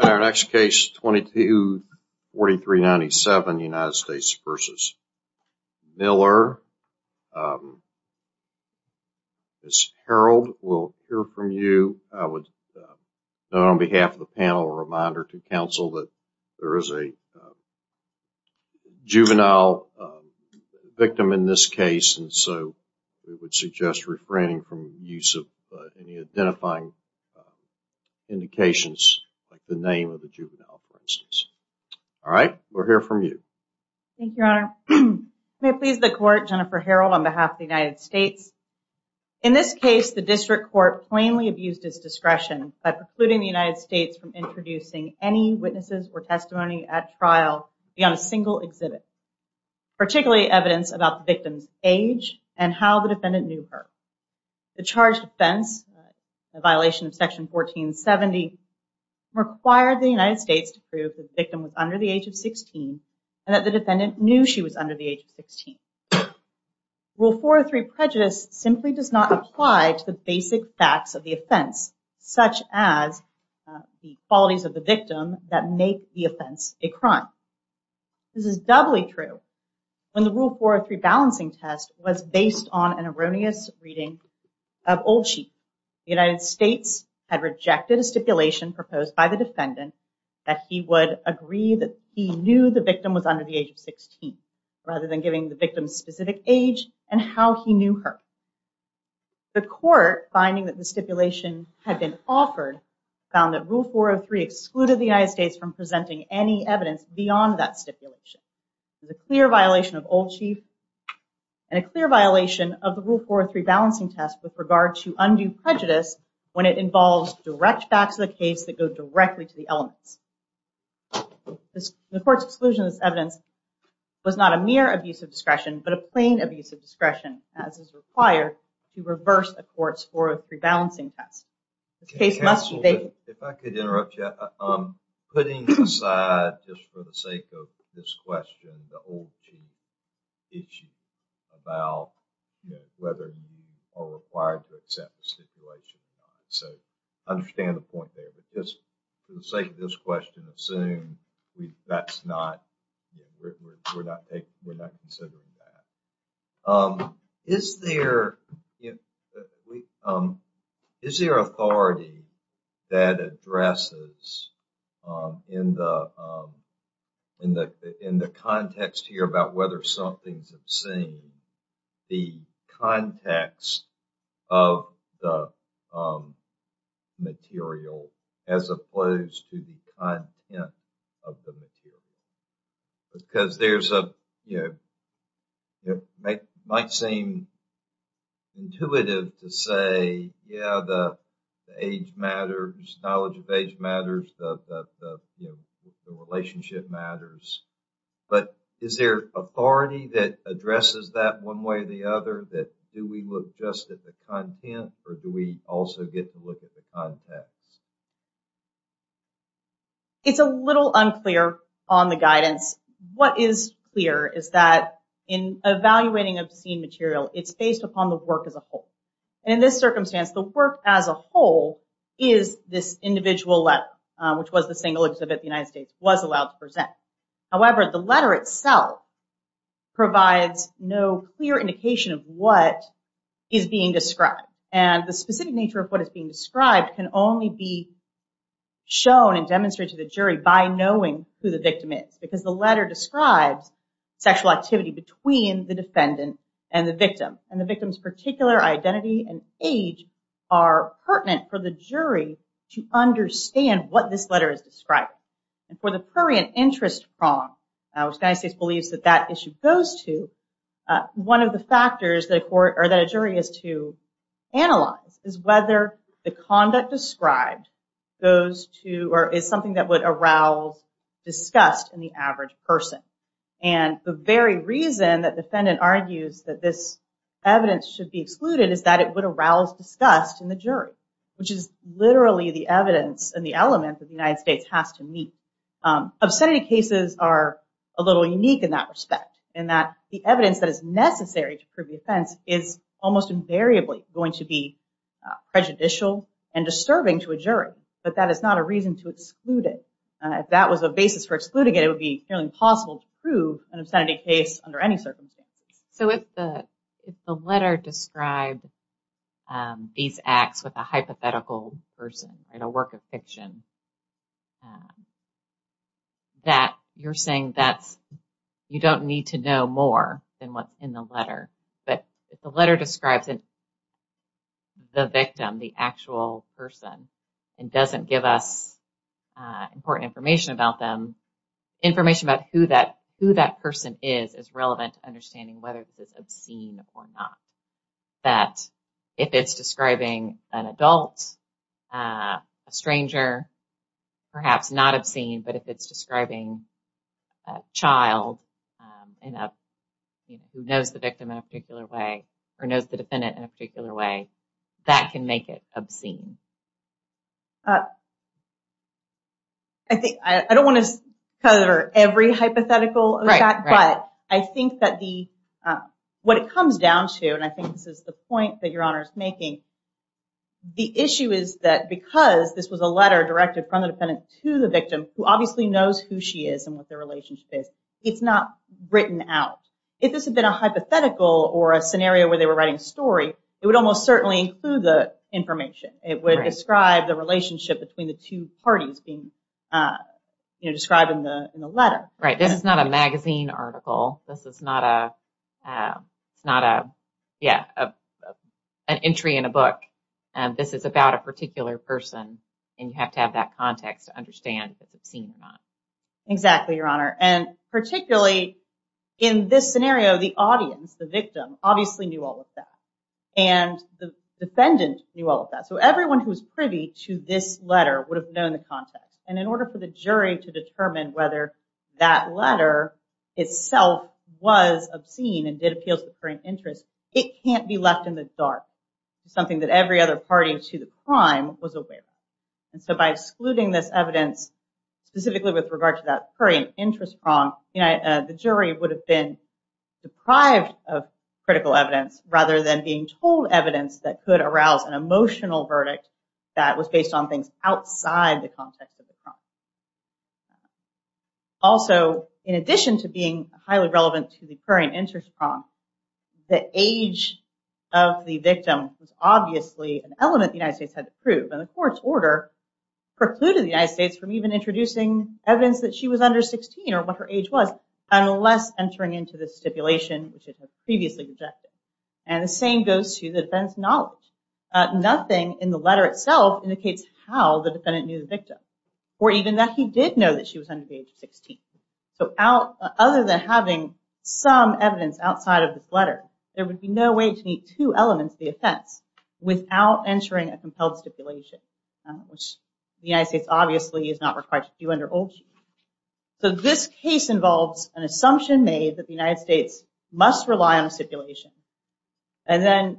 In our next case, 224397 United States v. Miller, Ms. Harold will hear from you. I would note on behalf of the panel, a reminder to counsel that there is a juvenile victim in this case, and so we would suggest refraining from use of any identifying indications, like the name of the juvenile, for instance. All right, we'll hear from you. Jennifer Harold Thank you, Your Honor. May it please the Court, Jennifer Harold on behalf of the United States. In this case, the District Court plainly abused its discretion by precluding the United States from introducing any witnesses or testimony at trial beyond a single exhibit, particularly evidence about the victim's age and how the defendant knew her. The charged offense, a violation of Section 1470, required the United States to prove that the victim was under the age of 16 and that the defendant knew she was under the age of 16. Rule 403 Prejudice simply does not apply to the basic facts of the offense, such as the qualities of the victim that make the offense a crime. This is doubly true when the Rule 403 balancing test was based on an erroneous reading of old sheet. The United States had rejected a stipulation proposed by the defendant that he would agree that he knew the victim was under the age of 16, rather than giving the victim's specific age and how he knew her. The Court, finding that the stipulation had been offered, found that Rule 403 excluded the United States from presenting any evidence beyond that stipulation. The clear violation of old sheet and a clear violation of the Rule 403 balancing test with regard to undue prejudice when it involves direct facts of the case that go directly to the elements. The Court's exclusion of this was not a mere abuse of discretion, but a plain abuse of discretion as is required to reverse a court's 403 balancing test. This case must be... If I could interrupt you. Putting aside, just for the sake of this question, the old sheet issue about whether you are required to accept the stipulation or not. So, I understand the point there, but just for the sake of this question, assume that's not We're not taking, we're not considering that. Is there, is there authority that addresses in the, in the, in the context here about whether something's obscene, the context of the material as opposed to the content of the material? Because there's a, you know, it might seem intuitive to say, yeah, the age matters, knowledge of age matters, the relationship matters. But is there authority that addresses that one way or the other, that do we look just at the content, or do we also get to look at the context? It's a little unclear on the guidance. What is clear is that in evaluating obscene material, it's based upon the work as a whole. And in this circumstance, the work as a whole is this individual letter, which was the single exhibit the United States was allowed to present. However, the letter itself provides no clear indication of what is being described. And the specific nature of what is being described can only be shown and demonstrated to the jury by knowing who the victim is. Because the letter describes sexual activity between the defendant and the victim. And the victim's particular identity and age are pertinent for the jury to understand what this letter is describing. And for the prurient interest prong, which the United States believes that that issue goes to, one of the factors that a jury is to analyze is whether the conduct described goes to, or is something that would arouse disgust in the average person. And the very reason that defendant argues that this evidence should be excluded is that it would arouse disgust in the jury, which is literally the evidence and the element that the United States has to meet. Obscenity cases are a little unique in that respect, in that the evidence that is necessary to prove the offense is almost invariably going to be prejudicial and disturbing to a jury. But that is not a reason to exclude it. If that was a basis for excluding it, it would be fairly impossible to prove an obscenity case under any circumstances. So if the letter described these acts with a hypothetical person, a work of fiction, you're saying that you don't need to know more than what's in the letter. But if the letter describes the victim, the actual person, and doesn't give us important information about them, information about who that person is is relevant to understanding whether this is obscene or not. That if it's describing an adult, a stranger, perhaps not obscene, but if it's describing a child who knows the victim in a particular way, or knows the defendant in a particular way, that can make it obscene. I don't want to cover every hypothetical, but I think that what it comes down to, and I think this is the point that Your Honor is making, the issue is that because this was a letter directed from the defendant to the victim, who obviously knows who she is and what their relationship is, it's not written out. If this had been a hypothetical or a scenario where they were writing a story, it would almost certainly include the information. It would describe the relationship between the two parties being described in the letter. Right. This is not a magazine article. This is not an entry in a book. This is about a particular person, and you have to have that context to understand if it's obscene or not. Exactly, Your Honor. Particularly in this scenario, the audience, the victim, obviously knew all of that, and the defendant knew all of that. Everyone who was privy to this letter would have known the context, and in order for the jury to determine whether that letter itself was obscene and did appeal to the prime interest, it can't be left in the dark. It's something that every other party to the prime was aware of, and so by excluding this evidence, specifically with regard to that prime interest prong, the jury would have been deprived of critical evidence rather than being told evidence that could arouse an emotional verdict that was based on things outside the context of the prong. Also, in addition to being highly relevant to the prurient interest prong, the age of the victim was obviously an element the United States had to prove, and the court's order precluded the United States from even introducing evidence that she was under 16 or what her age was unless entering into the stipulation which it had previously rejected, and the same goes to the defendant's knowledge. Nothing in the letter itself indicates how the defendant knew the victim or even that he did know that she was under the age of 16, so other than having some evidence outside of this letter, there would be no way to meet two elements of the offense without entering a compelled stipulation, which the United States obviously is not required to do under old human rights. This case involves an assumption made that the United States must rely on a stipulation, and then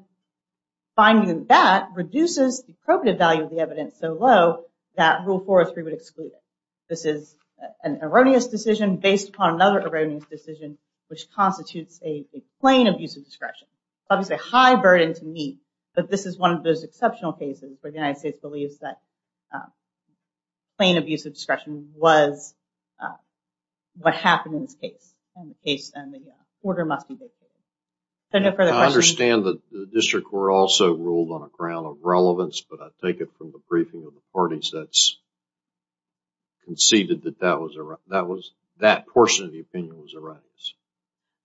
finding that reduces the appropriate value of the evidence so low that Rule 403 would exclude it. This is an erroneous decision based upon another erroneous decision, which constitutes a plain abuse of discretion. Obviously, a high burden to meet, but this is one of those exceptional cases where the United States believes that plain abuse of discretion was what happened in this case, and the case, and the order must be vacated. I understand that the district court also ruled on a ground of relevance, but I take it from the briefing of the parties that's conceded that that portion of the opinion was erroneous.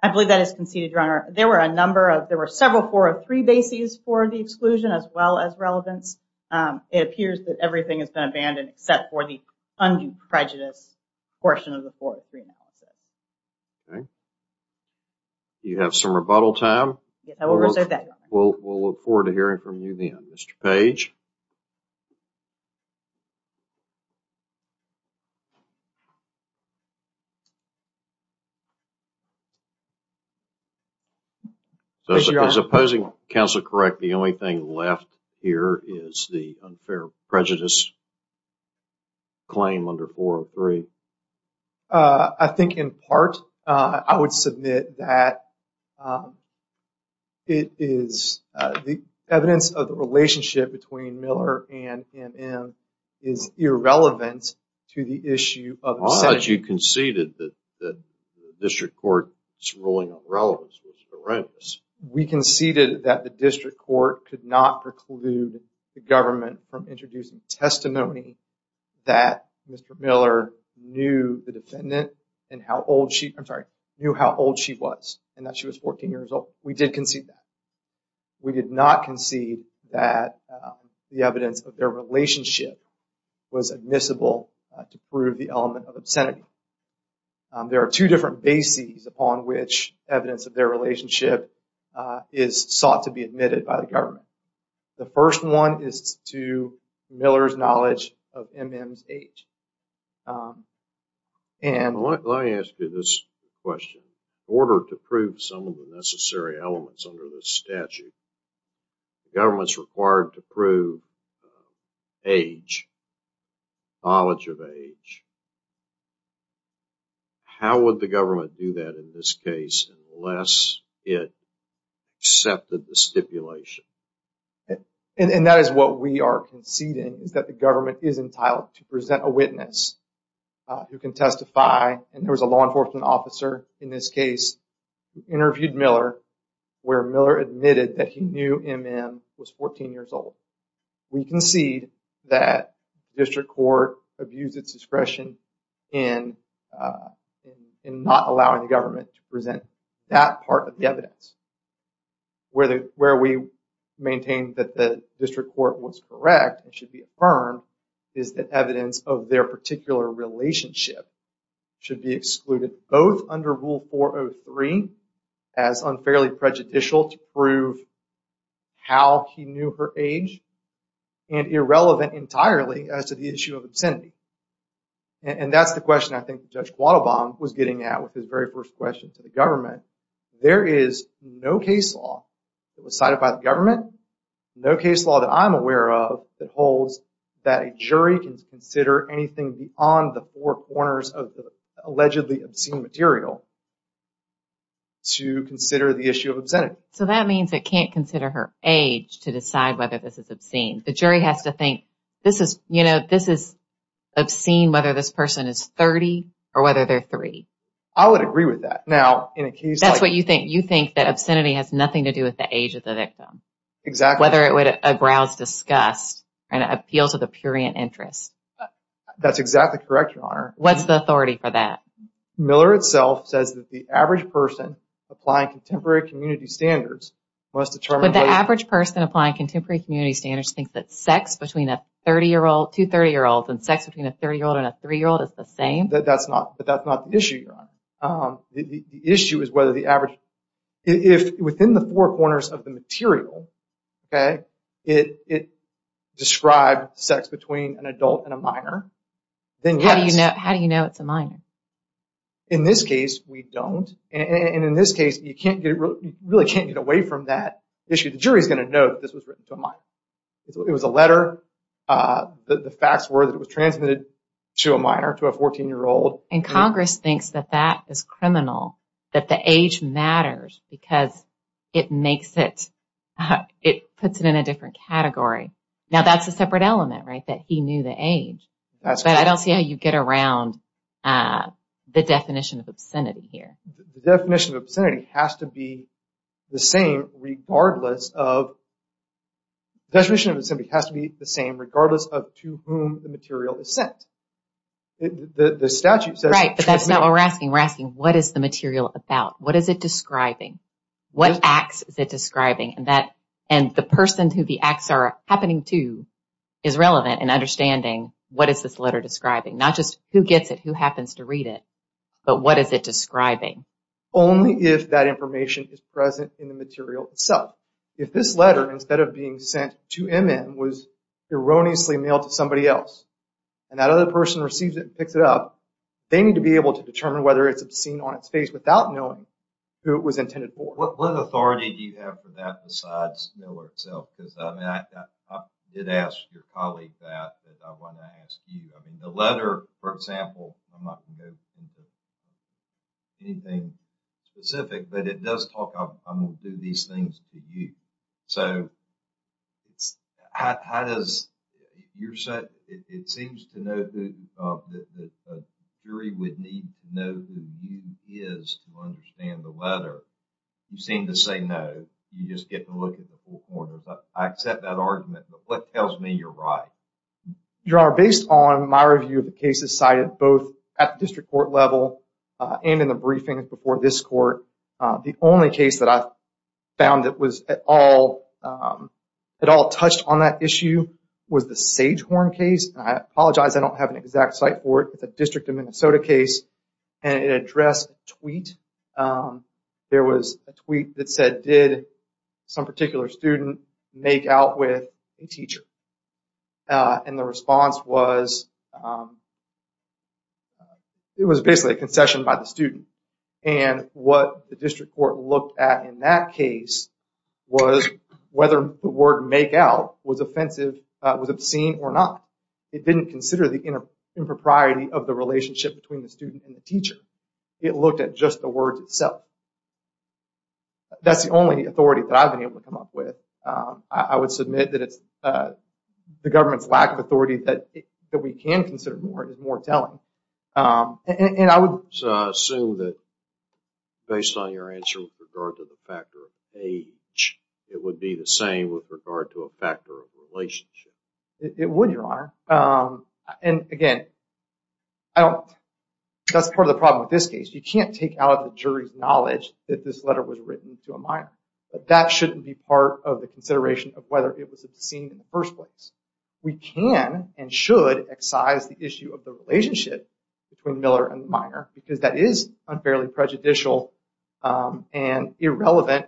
I believe that is conceded, Your Honor. There were several 403 bases for the exclusion as well as relevance. It appears that everything has been abandoned except for the undue prejudice portion of the 403 analysis. Okay. Do you have some rebuttal time? We'll look forward to hearing from you then, Mr. Page. As opposing counsel correct, the only thing left here is the unfair prejudice claim under 403. I think, in part, I would submit that the evidence of the relationship between Miller and M.M. is irrelevant to the issue of the sentence. I thought you conceded that the district court's ruling on relevance was horrendous. We conceded that the district court could not preclude the government from introducing testimony that Mr. Miller knew the defendant and how old she was, and that she was 14 years old. We did concede that. We did not concede that the evidence of their relationship was admissible to prove the element of obscenity. There are two different bases upon which evidence of their relationship is sought to be admitted by the government. The first one is to Miller's knowledge of M.M.'s age. Let me ask you this question. In order to prove some of the necessary elements under this statute, the government is required to prove age, knowledge of age. How would the government do that in this case unless it accepted the stipulation? And that is what we are conceding, is that the government is entitled to present a witness who can testify. And there was a law enforcement officer in this case who interviewed Miller where Miller admitted that he knew M.M. was 14 years old. We concede that the district court abused its discretion in not allowing the government to present that part of the evidence. Where we maintain that the district court was correct and should be affirmed is that evidence of their particular relationship should be excluded both under Rule 403 as unfairly prejudicial to prove how he knew her age and irrelevant entirely as to the issue of obscenity. And that's the question I think Judge Quattlebaum was getting at with his very first question to the government. There is no case law that was cited by the government, no case law that I'm aware of that holds that a jury can consider anything beyond the four corners of the allegedly obscene material to consider the issue of obscenity. So that means it can't consider her age to decide whether this is obscene. The jury has to think, you know, this is obscene whether this person is 30 or whether they're 3. I would agree with that. That's what you think. You think that obscenity has nothing to do with the age of the victim. Exactly. Whether it would aggrouse disgust and appeal to the purient interest. That's exactly correct, Your Honor. What's the authority for that? Miller itself says that the average person applying contemporary community standards must determine... Would the average person applying contemporary community standards think that sex between a 2-30 year old and sex between a 30 year old and a 3 year old is the same? That's not the issue, Your Honor. The issue is whether the average... If within the four corners of the material, okay, it describes sex between an adult and a minor, then yes. How do you know it's a minor? In this case, we don't. And in this case, you really can't get away from that issue. The jury is going to know that this was written to a minor. It was a letter. The facts were that it was transmitted to a minor, to a 14 year old. And Congress thinks that that is criminal. That the age matters because it makes it... It puts it in a different category. Now that's a separate element, right? That he knew the age. That's correct. But I don't see how you get around the definition of obscenity here. The definition of obscenity has to be the same regardless of... The definition of obscenity has to be the same regardless of to whom the material is sent. The statute says... Right, but that's not what we're asking. We're asking what is the material about? What is it describing? What acts is it describing? And the person who the acts are happening to is relevant in understanding what is this letter describing? Not just who gets it, who happens to read it, but what is it describing? Only if that information is present in the material itself. If this letter, instead of being sent to M.M., was erroneously mailed to somebody else, and that other person receives it and picks it up, they need to be able to determine whether it's obscene on its face without knowing who it was intended for. What authority do you have for that besides Miller itself? I did ask your colleague that, that I want to ask you. The letter, for example, I'm not going to go into anything specific, but it does talk about, I'm going to do these things to you. So, how does your set... It seems to note that the jury would need to know who you is to understand the letter. You seem to say no. You just get to look at the whole corner. I accept that argument, but what tells me you're right? Your Honor, based on my review of the cases cited both at the district court level and in the briefings before this court, the only case that I found that was at all touched on that issue was the Sagehorn case. I apologize, I don't have an exact site for it. It's a district of Minnesota case. And it addressed a tweet. There was a tweet that said, did some particular student make out with a teacher? And the response was, it was basically a concession by the student. And what the district court looked at in that case was whether the word make out was offensive, was obscene or not. It didn't consider the impropriety of the relationship between the student and the teacher. It looked at just the word itself. That's the only authority that I've been able to come up with. I would submit that it's the government's lack of authority that we can consider more telling. So, I assume that based on your answer with regard to the factor of age, it would be the same with regard to a factor of relationship. It would, Your Honor. And again, that's part of the problem with this case. You can't take out the jury's knowledge that this letter was written to a minor. That shouldn't be part of the consideration of whether it was obscene in the first place. We can and should excise the issue of the relationship between Miller and the minor because that is unfairly prejudicial and irrelevant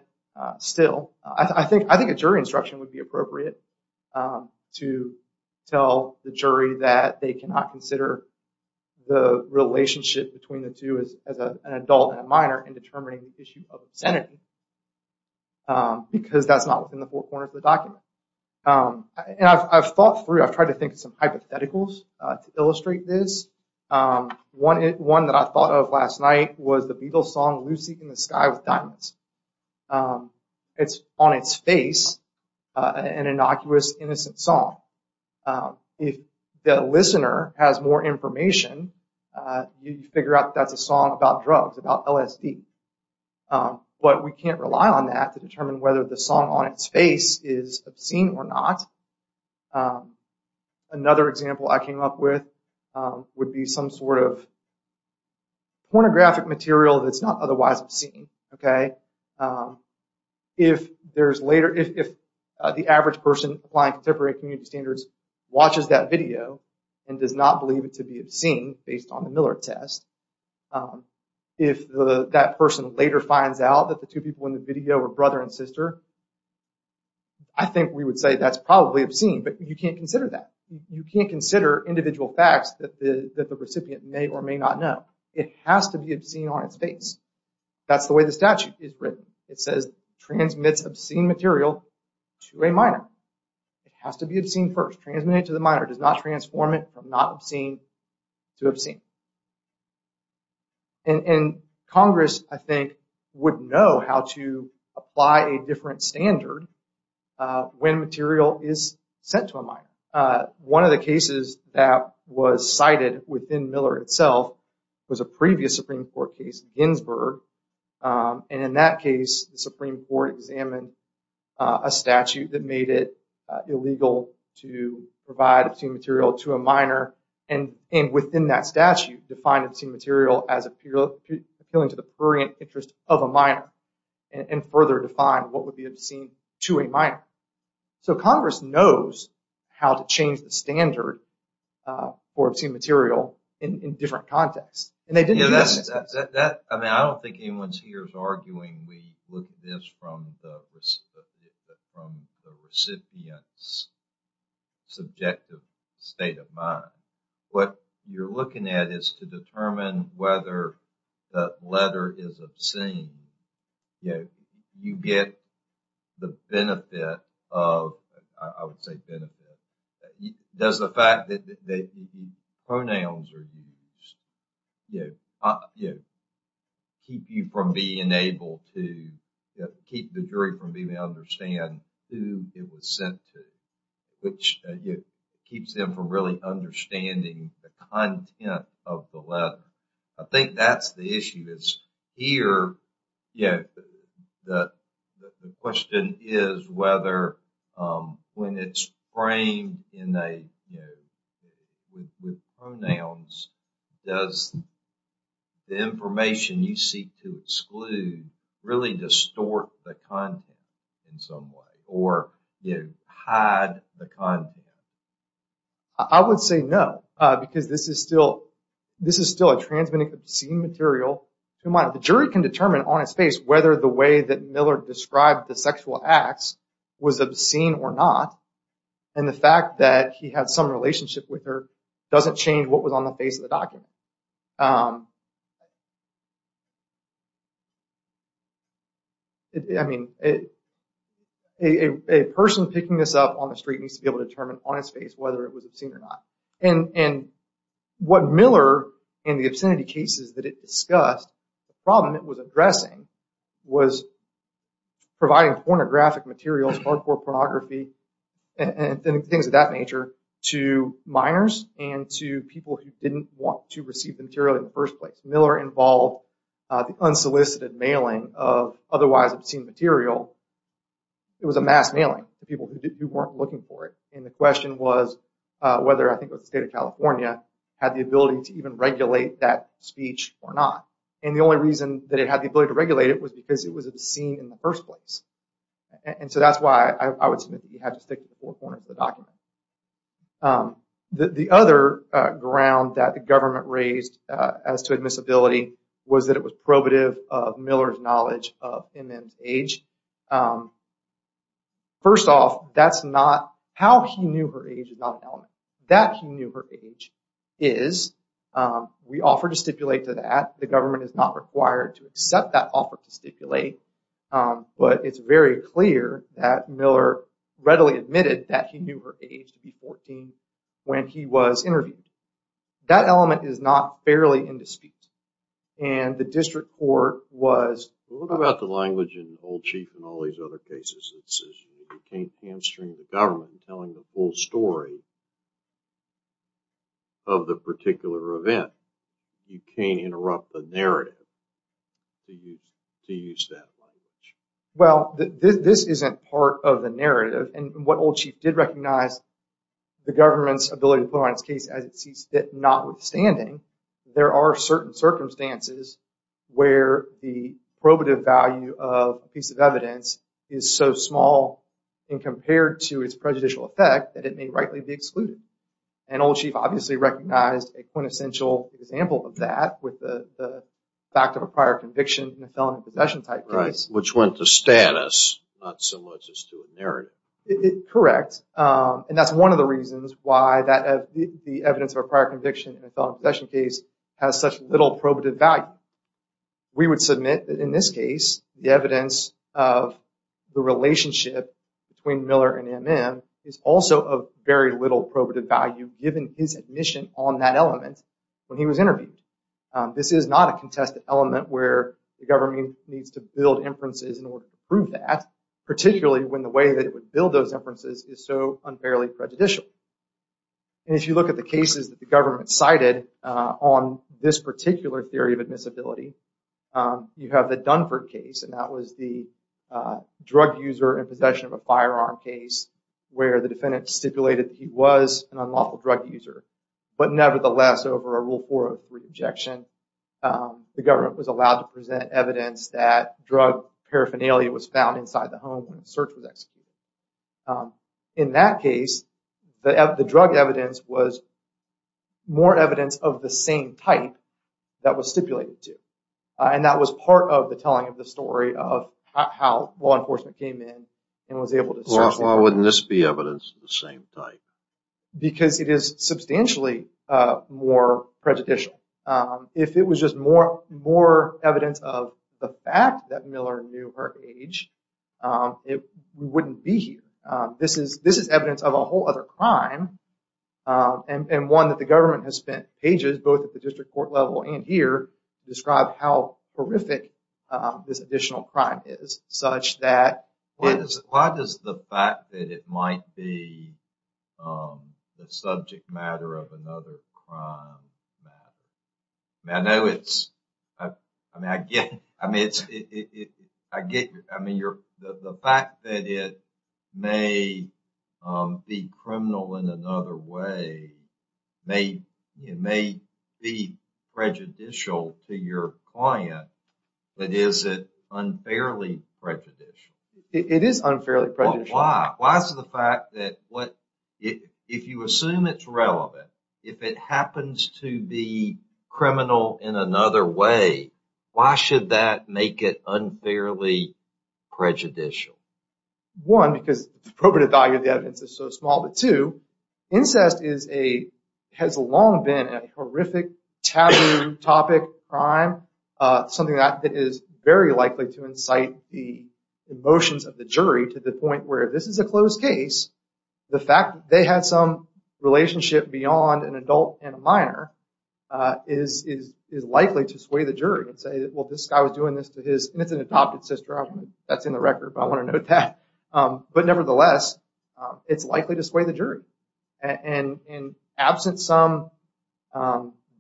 still. I think a jury instruction would be appropriate to tell the jury that they cannot consider the relationship between the two as an adult and a minor in determining the issue of obscenity. Because that's not within the four corners of the document. And I've thought through, I've tried to think of some hypotheticals to illustrate this. One that I thought of last night was the Beatles song, Lucy in the Sky with Diamonds. It's on its face an innocuous, innocent song. If the listener has more information, you figure out that's a song about drugs, about LSD. But we can't rely on that to determine whether the song on its face is obscene or not. Another example I came up with would be some sort of pornographic material that's not otherwise obscene. If the average person applying contemporary community standards watches that video and does not believe it to be obscene based on the Miller test. If that person later finds out that the two people in the video were brother and sister, I think we would say that's probably obscene. But you can't consider that. You can't consider individual facts that the recipient may or may not know. It has to be obscene on its face. That's the way the statute is written. It says transmits obscene material to a minor. It has to be obscene first. Transmitted to the minor. Does not transform it from not obscene to obscene. And Congress, I think, would know how to apply a different standard when material is sent to a minor. One of the cases that was cited within Miller itself was a previous Supreme Court case, Ginsburg. And in that case, the Supreme Court examined a statute that made it illegal to provide obscene material to a minor. And within that statute, defined obscene material as appealing to the purient interest of a minor. And further defined what would be obscene to a minor. So Congress knows how to change the standard for obscene material in different contexts. I don't think anyone here is arguing we look at this from the recipient's subjective state of mind. What you're looking at is to determine whether the letter is obscene. You get the benefit of, I would say benefit. Does the fact that pronouns are used keep you from being able to, keep the jury from being able to understand who it was sent to? Which keeps them from really understanding the content of the letter. I think that's the issue. Here, the question is whether when it's framed with pronouns, does the information you seek to exclude really distort the content in some way? Or hide the content? I would say no. Because this is still a transmitting obscene material to a minor. The jury can determine on its face whether the way that Miller described the sexual acts was obscene or not. And the fact that he had some relationship with her doesn't change what was on the face of the document. A person picking this up on the street needs to be able to determine on its face whether it was obscene or not. What Miller and the obscenity cases that it discussed, the problem it was addressing was providing pornographic materials, hardcore pornography, and things of that nature to minors and to people who didn't want to receive the material in the first place. Miller involved the unsolicited mailing of otherwise obscene material. It was a mass mailing to people who weren't looking for it. And the question was whether I think the state of California had the ability to even regulate that speech or not. And the only reason that it had the ability to regulate it was because it was obscene in the first place. And so that's why I would submit that he had to stick to the four corners of the document. The other ground that the government raised as to admissibility was that it was probative of Miller's knowledge of MN's age. And first off, that's not, how he knew her age is not an element. That he knew her age is, we offer to stipulate to that. The government is not required to accept that offer to stipulate. But it's very clear that Miller readily admitted that he knew her age to be 14 when he was interviewed. That element is not fairly in dispute. And the district court was... What about the language in Old Chief and all these other cases? It says you can't hamstring the government telling the full story of the particular event. You can't interrupt the narrative to use that language. Well, this isn't part of the narrative. And what Old Chief did recognize, the government's ability to put on its case as it sees fit. Notwithstanding, there are certain circumstances where the probative value of a piece of evidence is so small. And compared to its prejudicial effect, that it may rightly be excluded. And Old Chief obviously recognized a quintessential example of that with the fact of a prior conviction in a felony possession type case. Which went to status, not so much as to a narrative. Correct. And that's one of the reasons why the evidence of a prior conviction in a felony possession case has such little probative value. We would submit that in this case, the evidence of the relationship between Miller and M.M. is also of very little probative value given his admission on that element when he was interviewed. This is not a contested element where the government needs to build inferences in order to prove that. Particularly when the way that it would build those inferences is so unfairly prejudicial. And if you look at the cases that the government cited on this particular theory of admissibility. You have the Dunford case, and that was the drug user in possession of a firearm case. Where the defendant stipulated that he was an unlawful drug user. But nevertheless, over a Rule 403 objection, the government was allowed to present evidence that drug paraphernalia was found inside the home. When the search was executed. In that case, the drug evidence was more evidence of the same type that was stipulated to. And that was part of the telling of the story of how law enforcement came in and was able to search. Why wouldn't this be evidence of the same type? Because it is substantially more prejudicial. If it was just more evidence of the fact that Miller knew her age, we wouldn't be here. This is evidence of a whole other crime. And one that the government has spent ages, both at the district court level and here, to describe how horrific this additional crime is. Why does the fact that it might be the subject matter of another crime matter? I know it's, I get, I mean, the fact that it may be criminal in another way may be prejudicial to your client. But is it unfairly prejudicial? Why? Why is the fact that if you assume it's relevant, if it happens to be criminal in another way, why should that make it unfairly prejudicial? One, because the probative value of the evidence is so small. But two, incest has long been a horrific, taboo topic, crime. Something that is very likely to incite the emotions of the jury to the point where if this is a closed case, the fact that they had some relationship beyond an adult and a minor is likely to sway the jury and say, well, this guy was doing this to his, and it's an adopted sister, that's in the record, but I want to note that. But nevertheless, it's likely to sway the jury. And absent some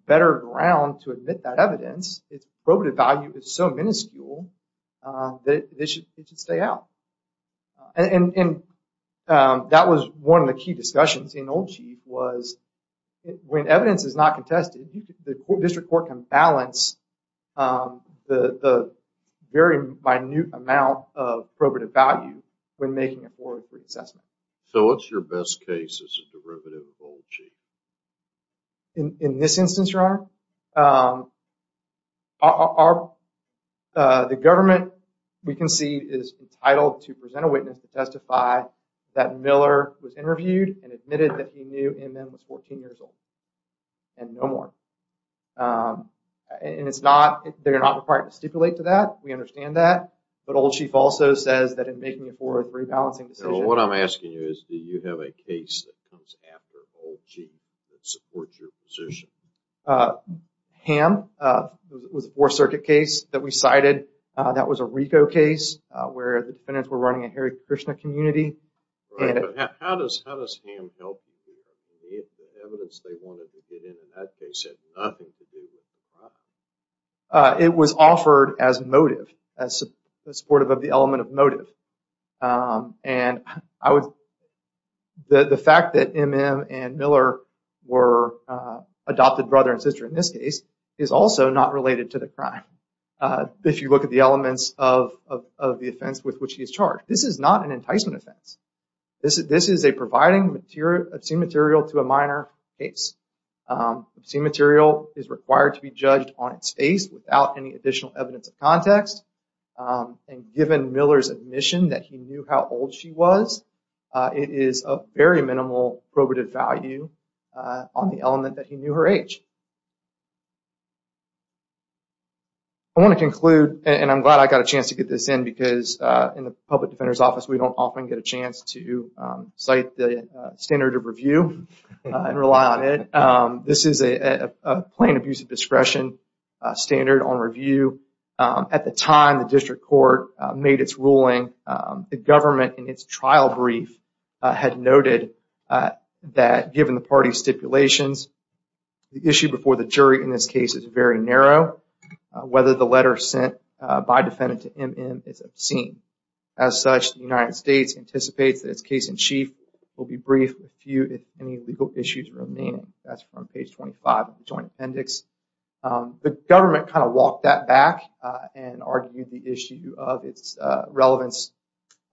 better ground to admit that evidence, its probative value is so minuscule that it should stay out. And that was one of the key discussions in Old Chief was when evidence is not contested, the district court can balance the very minute amount of probative value when making a 403 assessment. So what's your best case as a derivative of Old Chief? In this instance, Your Honor, the government we concede is entitled to present a witness to testify that Miller was interviewed and admitted that he knew M.M. was 14 years old and no more. And it's not, they're not required to stipulate to that, we understand that. But Old Chief also says that in making a 403 balancing decision... So what I'm asking you is, do you have a case that comes after Old Chief that supports your position? Ham, it was a Fourth Circuit case that we cited. That was a RICO case where the defendants were running a Hare Krishna community. Right, but how does Ham help you do that? The evidence they wanted to get in that case had nothing to do with the crime. It was offered as motive, as supportive of the element of motive. And the fact that M.M. and Miller were adopted brother and sister in this case is also not related to the crime. If you look at the elements of the offense with which he is charged, this is not an enticement offense. This is a providing obscene material to a minor case. Obscene material is required to be judged on its face without any additional evidence of context. And given Miller's admission that he knew how old she was, it is of very minimal probative value on the element that he knew her age. I want to conclude, and I'm glad I got a chance to get this in because in the public defender's office we don't often get a chance to cite the standard of review and rely on it. This is a plain abuse of discretion standard on review. At the time the district court made its ruling, the government in its trial brief had noted that given the party's stipulations, the issue before the jury in this case is very narrow. Whether the letter sent by defendant to M.M. is obscene. As such, the United States anticipates that its case in chief will be briefed if any legal issues remain. That's from page 25 of the joint appendix. The government kind of walked that back and argued the issue of its relevance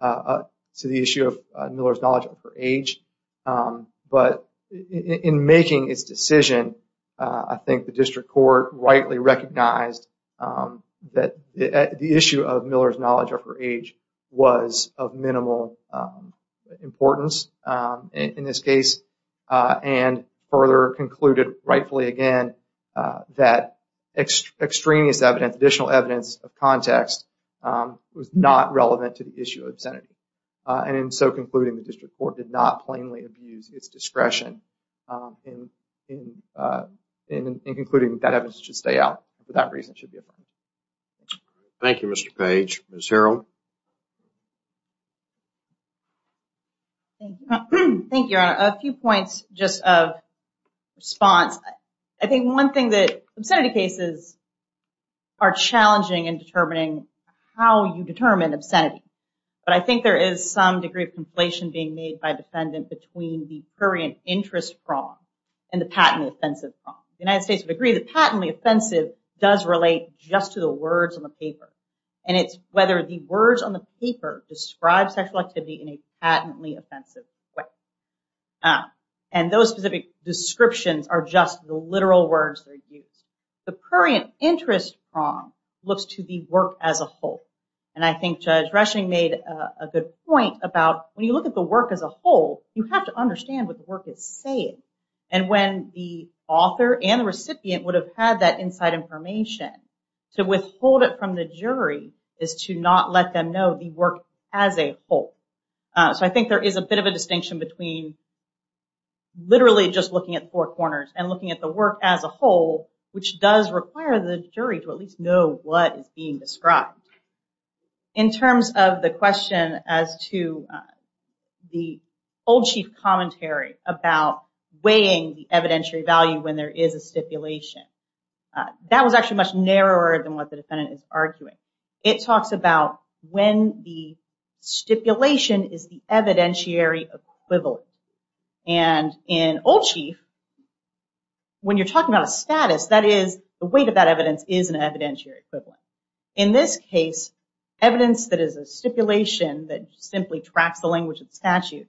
to the issue of Miller's knowledge of her age. But in making its decision, I think the district court rightly recognized that the issue of Miller's knowledge of her age was of minimal importance in this case. And further concluded rightfully again that extraneous evidence, additional evidence of context was not relevant to the issue of obscenity. And in so concluding, the district court did not plainly abuse its discretion in concluding that evidence should stay out for that reason. Thank you, Mr. Page. Ms. Harrell? Thank you, your honor. A few points just of response. I think one thing that obscenity cases are challenging in determining how you determine obscenity. But I think there is some degree of conflation being made by a defendant between the prurient interest prong and the patently offensive prong. The United States would agree the patently offensive does relate just to the words on the paper. And it's whether the words on the paper describe sexual activity in a patently offensive way. And those specific descriptions are just the literal words that are used. The prurient interest prong looks to the work as a whole. And I think Judge Rushing made a good point about when you look at the work as a whole, you have to understand what the work is saying. And when the author and the recipient would have had that inside information, to withhold it from the jury is to not let them know the work as a whole. So I think there is a bit of a distinction between literally just looking at four corners and looking at the work as a whole, which does require the jury to at least know what is being described. In terms of the question as to the Old Chief commentary about weighing the evidentiary value when there is a stipulation, that was actually much narrower than what the defendant is arguing. It talks about when the stipulation is the evidentiary equivalent. And in Old Chief, when you're talking about a status, that is the weight of that evidence is an evidentiary equivalent. In this case, evidence that is a stipulation that simply tracks the language of the statute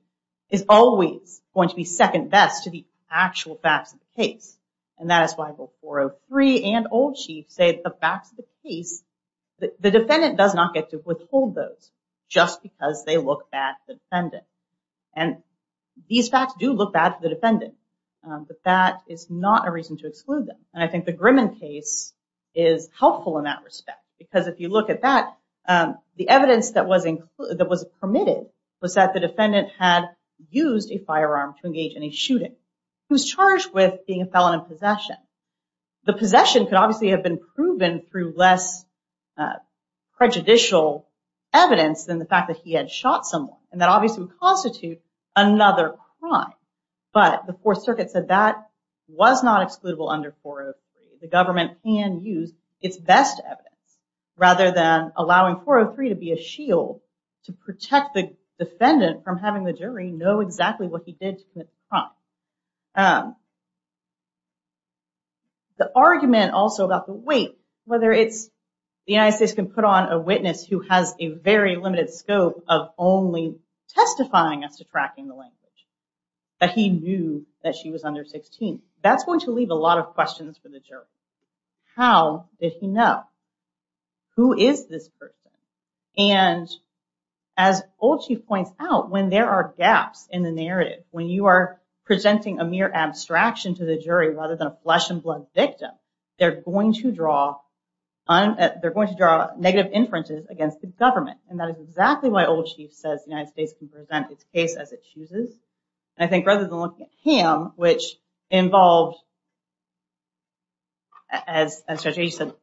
is always going to be second best to the actual facts of the case. And that is why both 403 and Old Chief say the facts of the case, the defendant does not get to withhold those just because they look bad to the defendant. And these facts do look bad to the defendant, but that is not a reason to exclude them. And I think the Grimman case is helpful in that respect. Because if you look at that, the evidence that was permitted was that the defendant had used a firearm to engage in a shooting. He was charged with being a felon in possession. The possession could obviously have been proven through less prejudicial evidence than the fact that he had shot someone. And that obviously would constitute another crime. But the Fourth Circuit said that was not excludable under 403. The government can use its best evidence rather than allowing 403 to be a shield to protect the defendant from having the jury know exactly what he did to commit the crime. The argument also about the weight, whether it's the United States can put on a witness who has a very limited scope of only testifying as to tracking the language. But he knew that she was under 16. That's going to leave a lot of questions for the jury. How did he know? Who is this person? And as Old Chief points out, when there are gaps in the narrative, when you are presenting a mere abstraction to the jury rather than a flesh and blood victim, they're going to draw negative inferences against the government. And that is exactly why Old Chief says the United States can present its case as it chooses. And I think rather than looking at him, which involved, as Judge Agee said,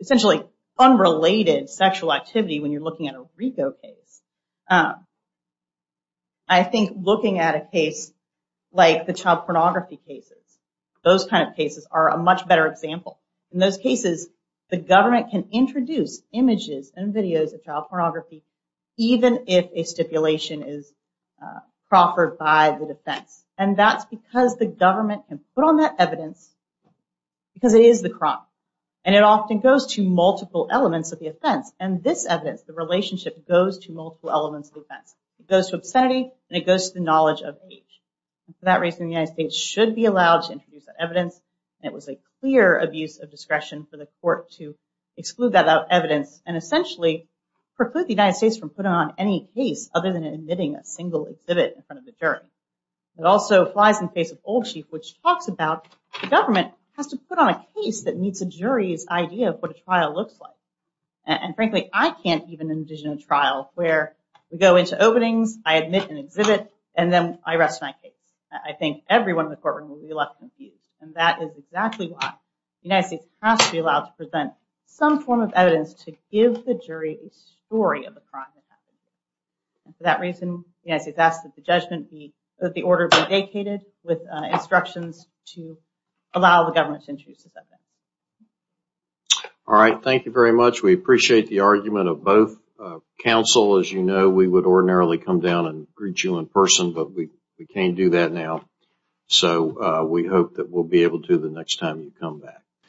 essentially unrelated sexual activity when you're looking at a RICO case, I think looking at a case like the child pornography cases, those kind of cases are a much better example. In those cases, the government can introduce images and videos of child pornography even if a stipulation is proffered by the defense. And that's because the government can put on that evidence because it is the crime. And it often goes to multiple elements of the offense. And this evidence, the relationship, goes to multiple elements of the offense. It goes to obscenity and it goes to the knowledge of age. And for that reason, the United States should be allowed to introduce that evidence. And it was a clear abuse of discretion for the court to exclude that evidence and essentially preclude the United States from putting on any case other than admitting a single exhibit in front of the jury. It also flies in the face of Old Chief, which talks about the government has to put on a case that meets a jury's idea of what a trial looks like. And frankly, I can't even envision a trial where we go into openings, I admit an exhibit, and then I rest my case. I think everyone in the courtroom will be left confused. And that is exactly why the United States has to be allowed to present some form of evidence to give the jury a story of the crime that happened. And for that reason, the United States asks that the order be vacated with instructions to allow the government to introduce this evidence. All right. Thank you very much. We appreciate the argument of both counsel. As you know, we would ordinarily come down and greet you in person, but we can't do that now. So we hope that we'll be able to the next time you come back.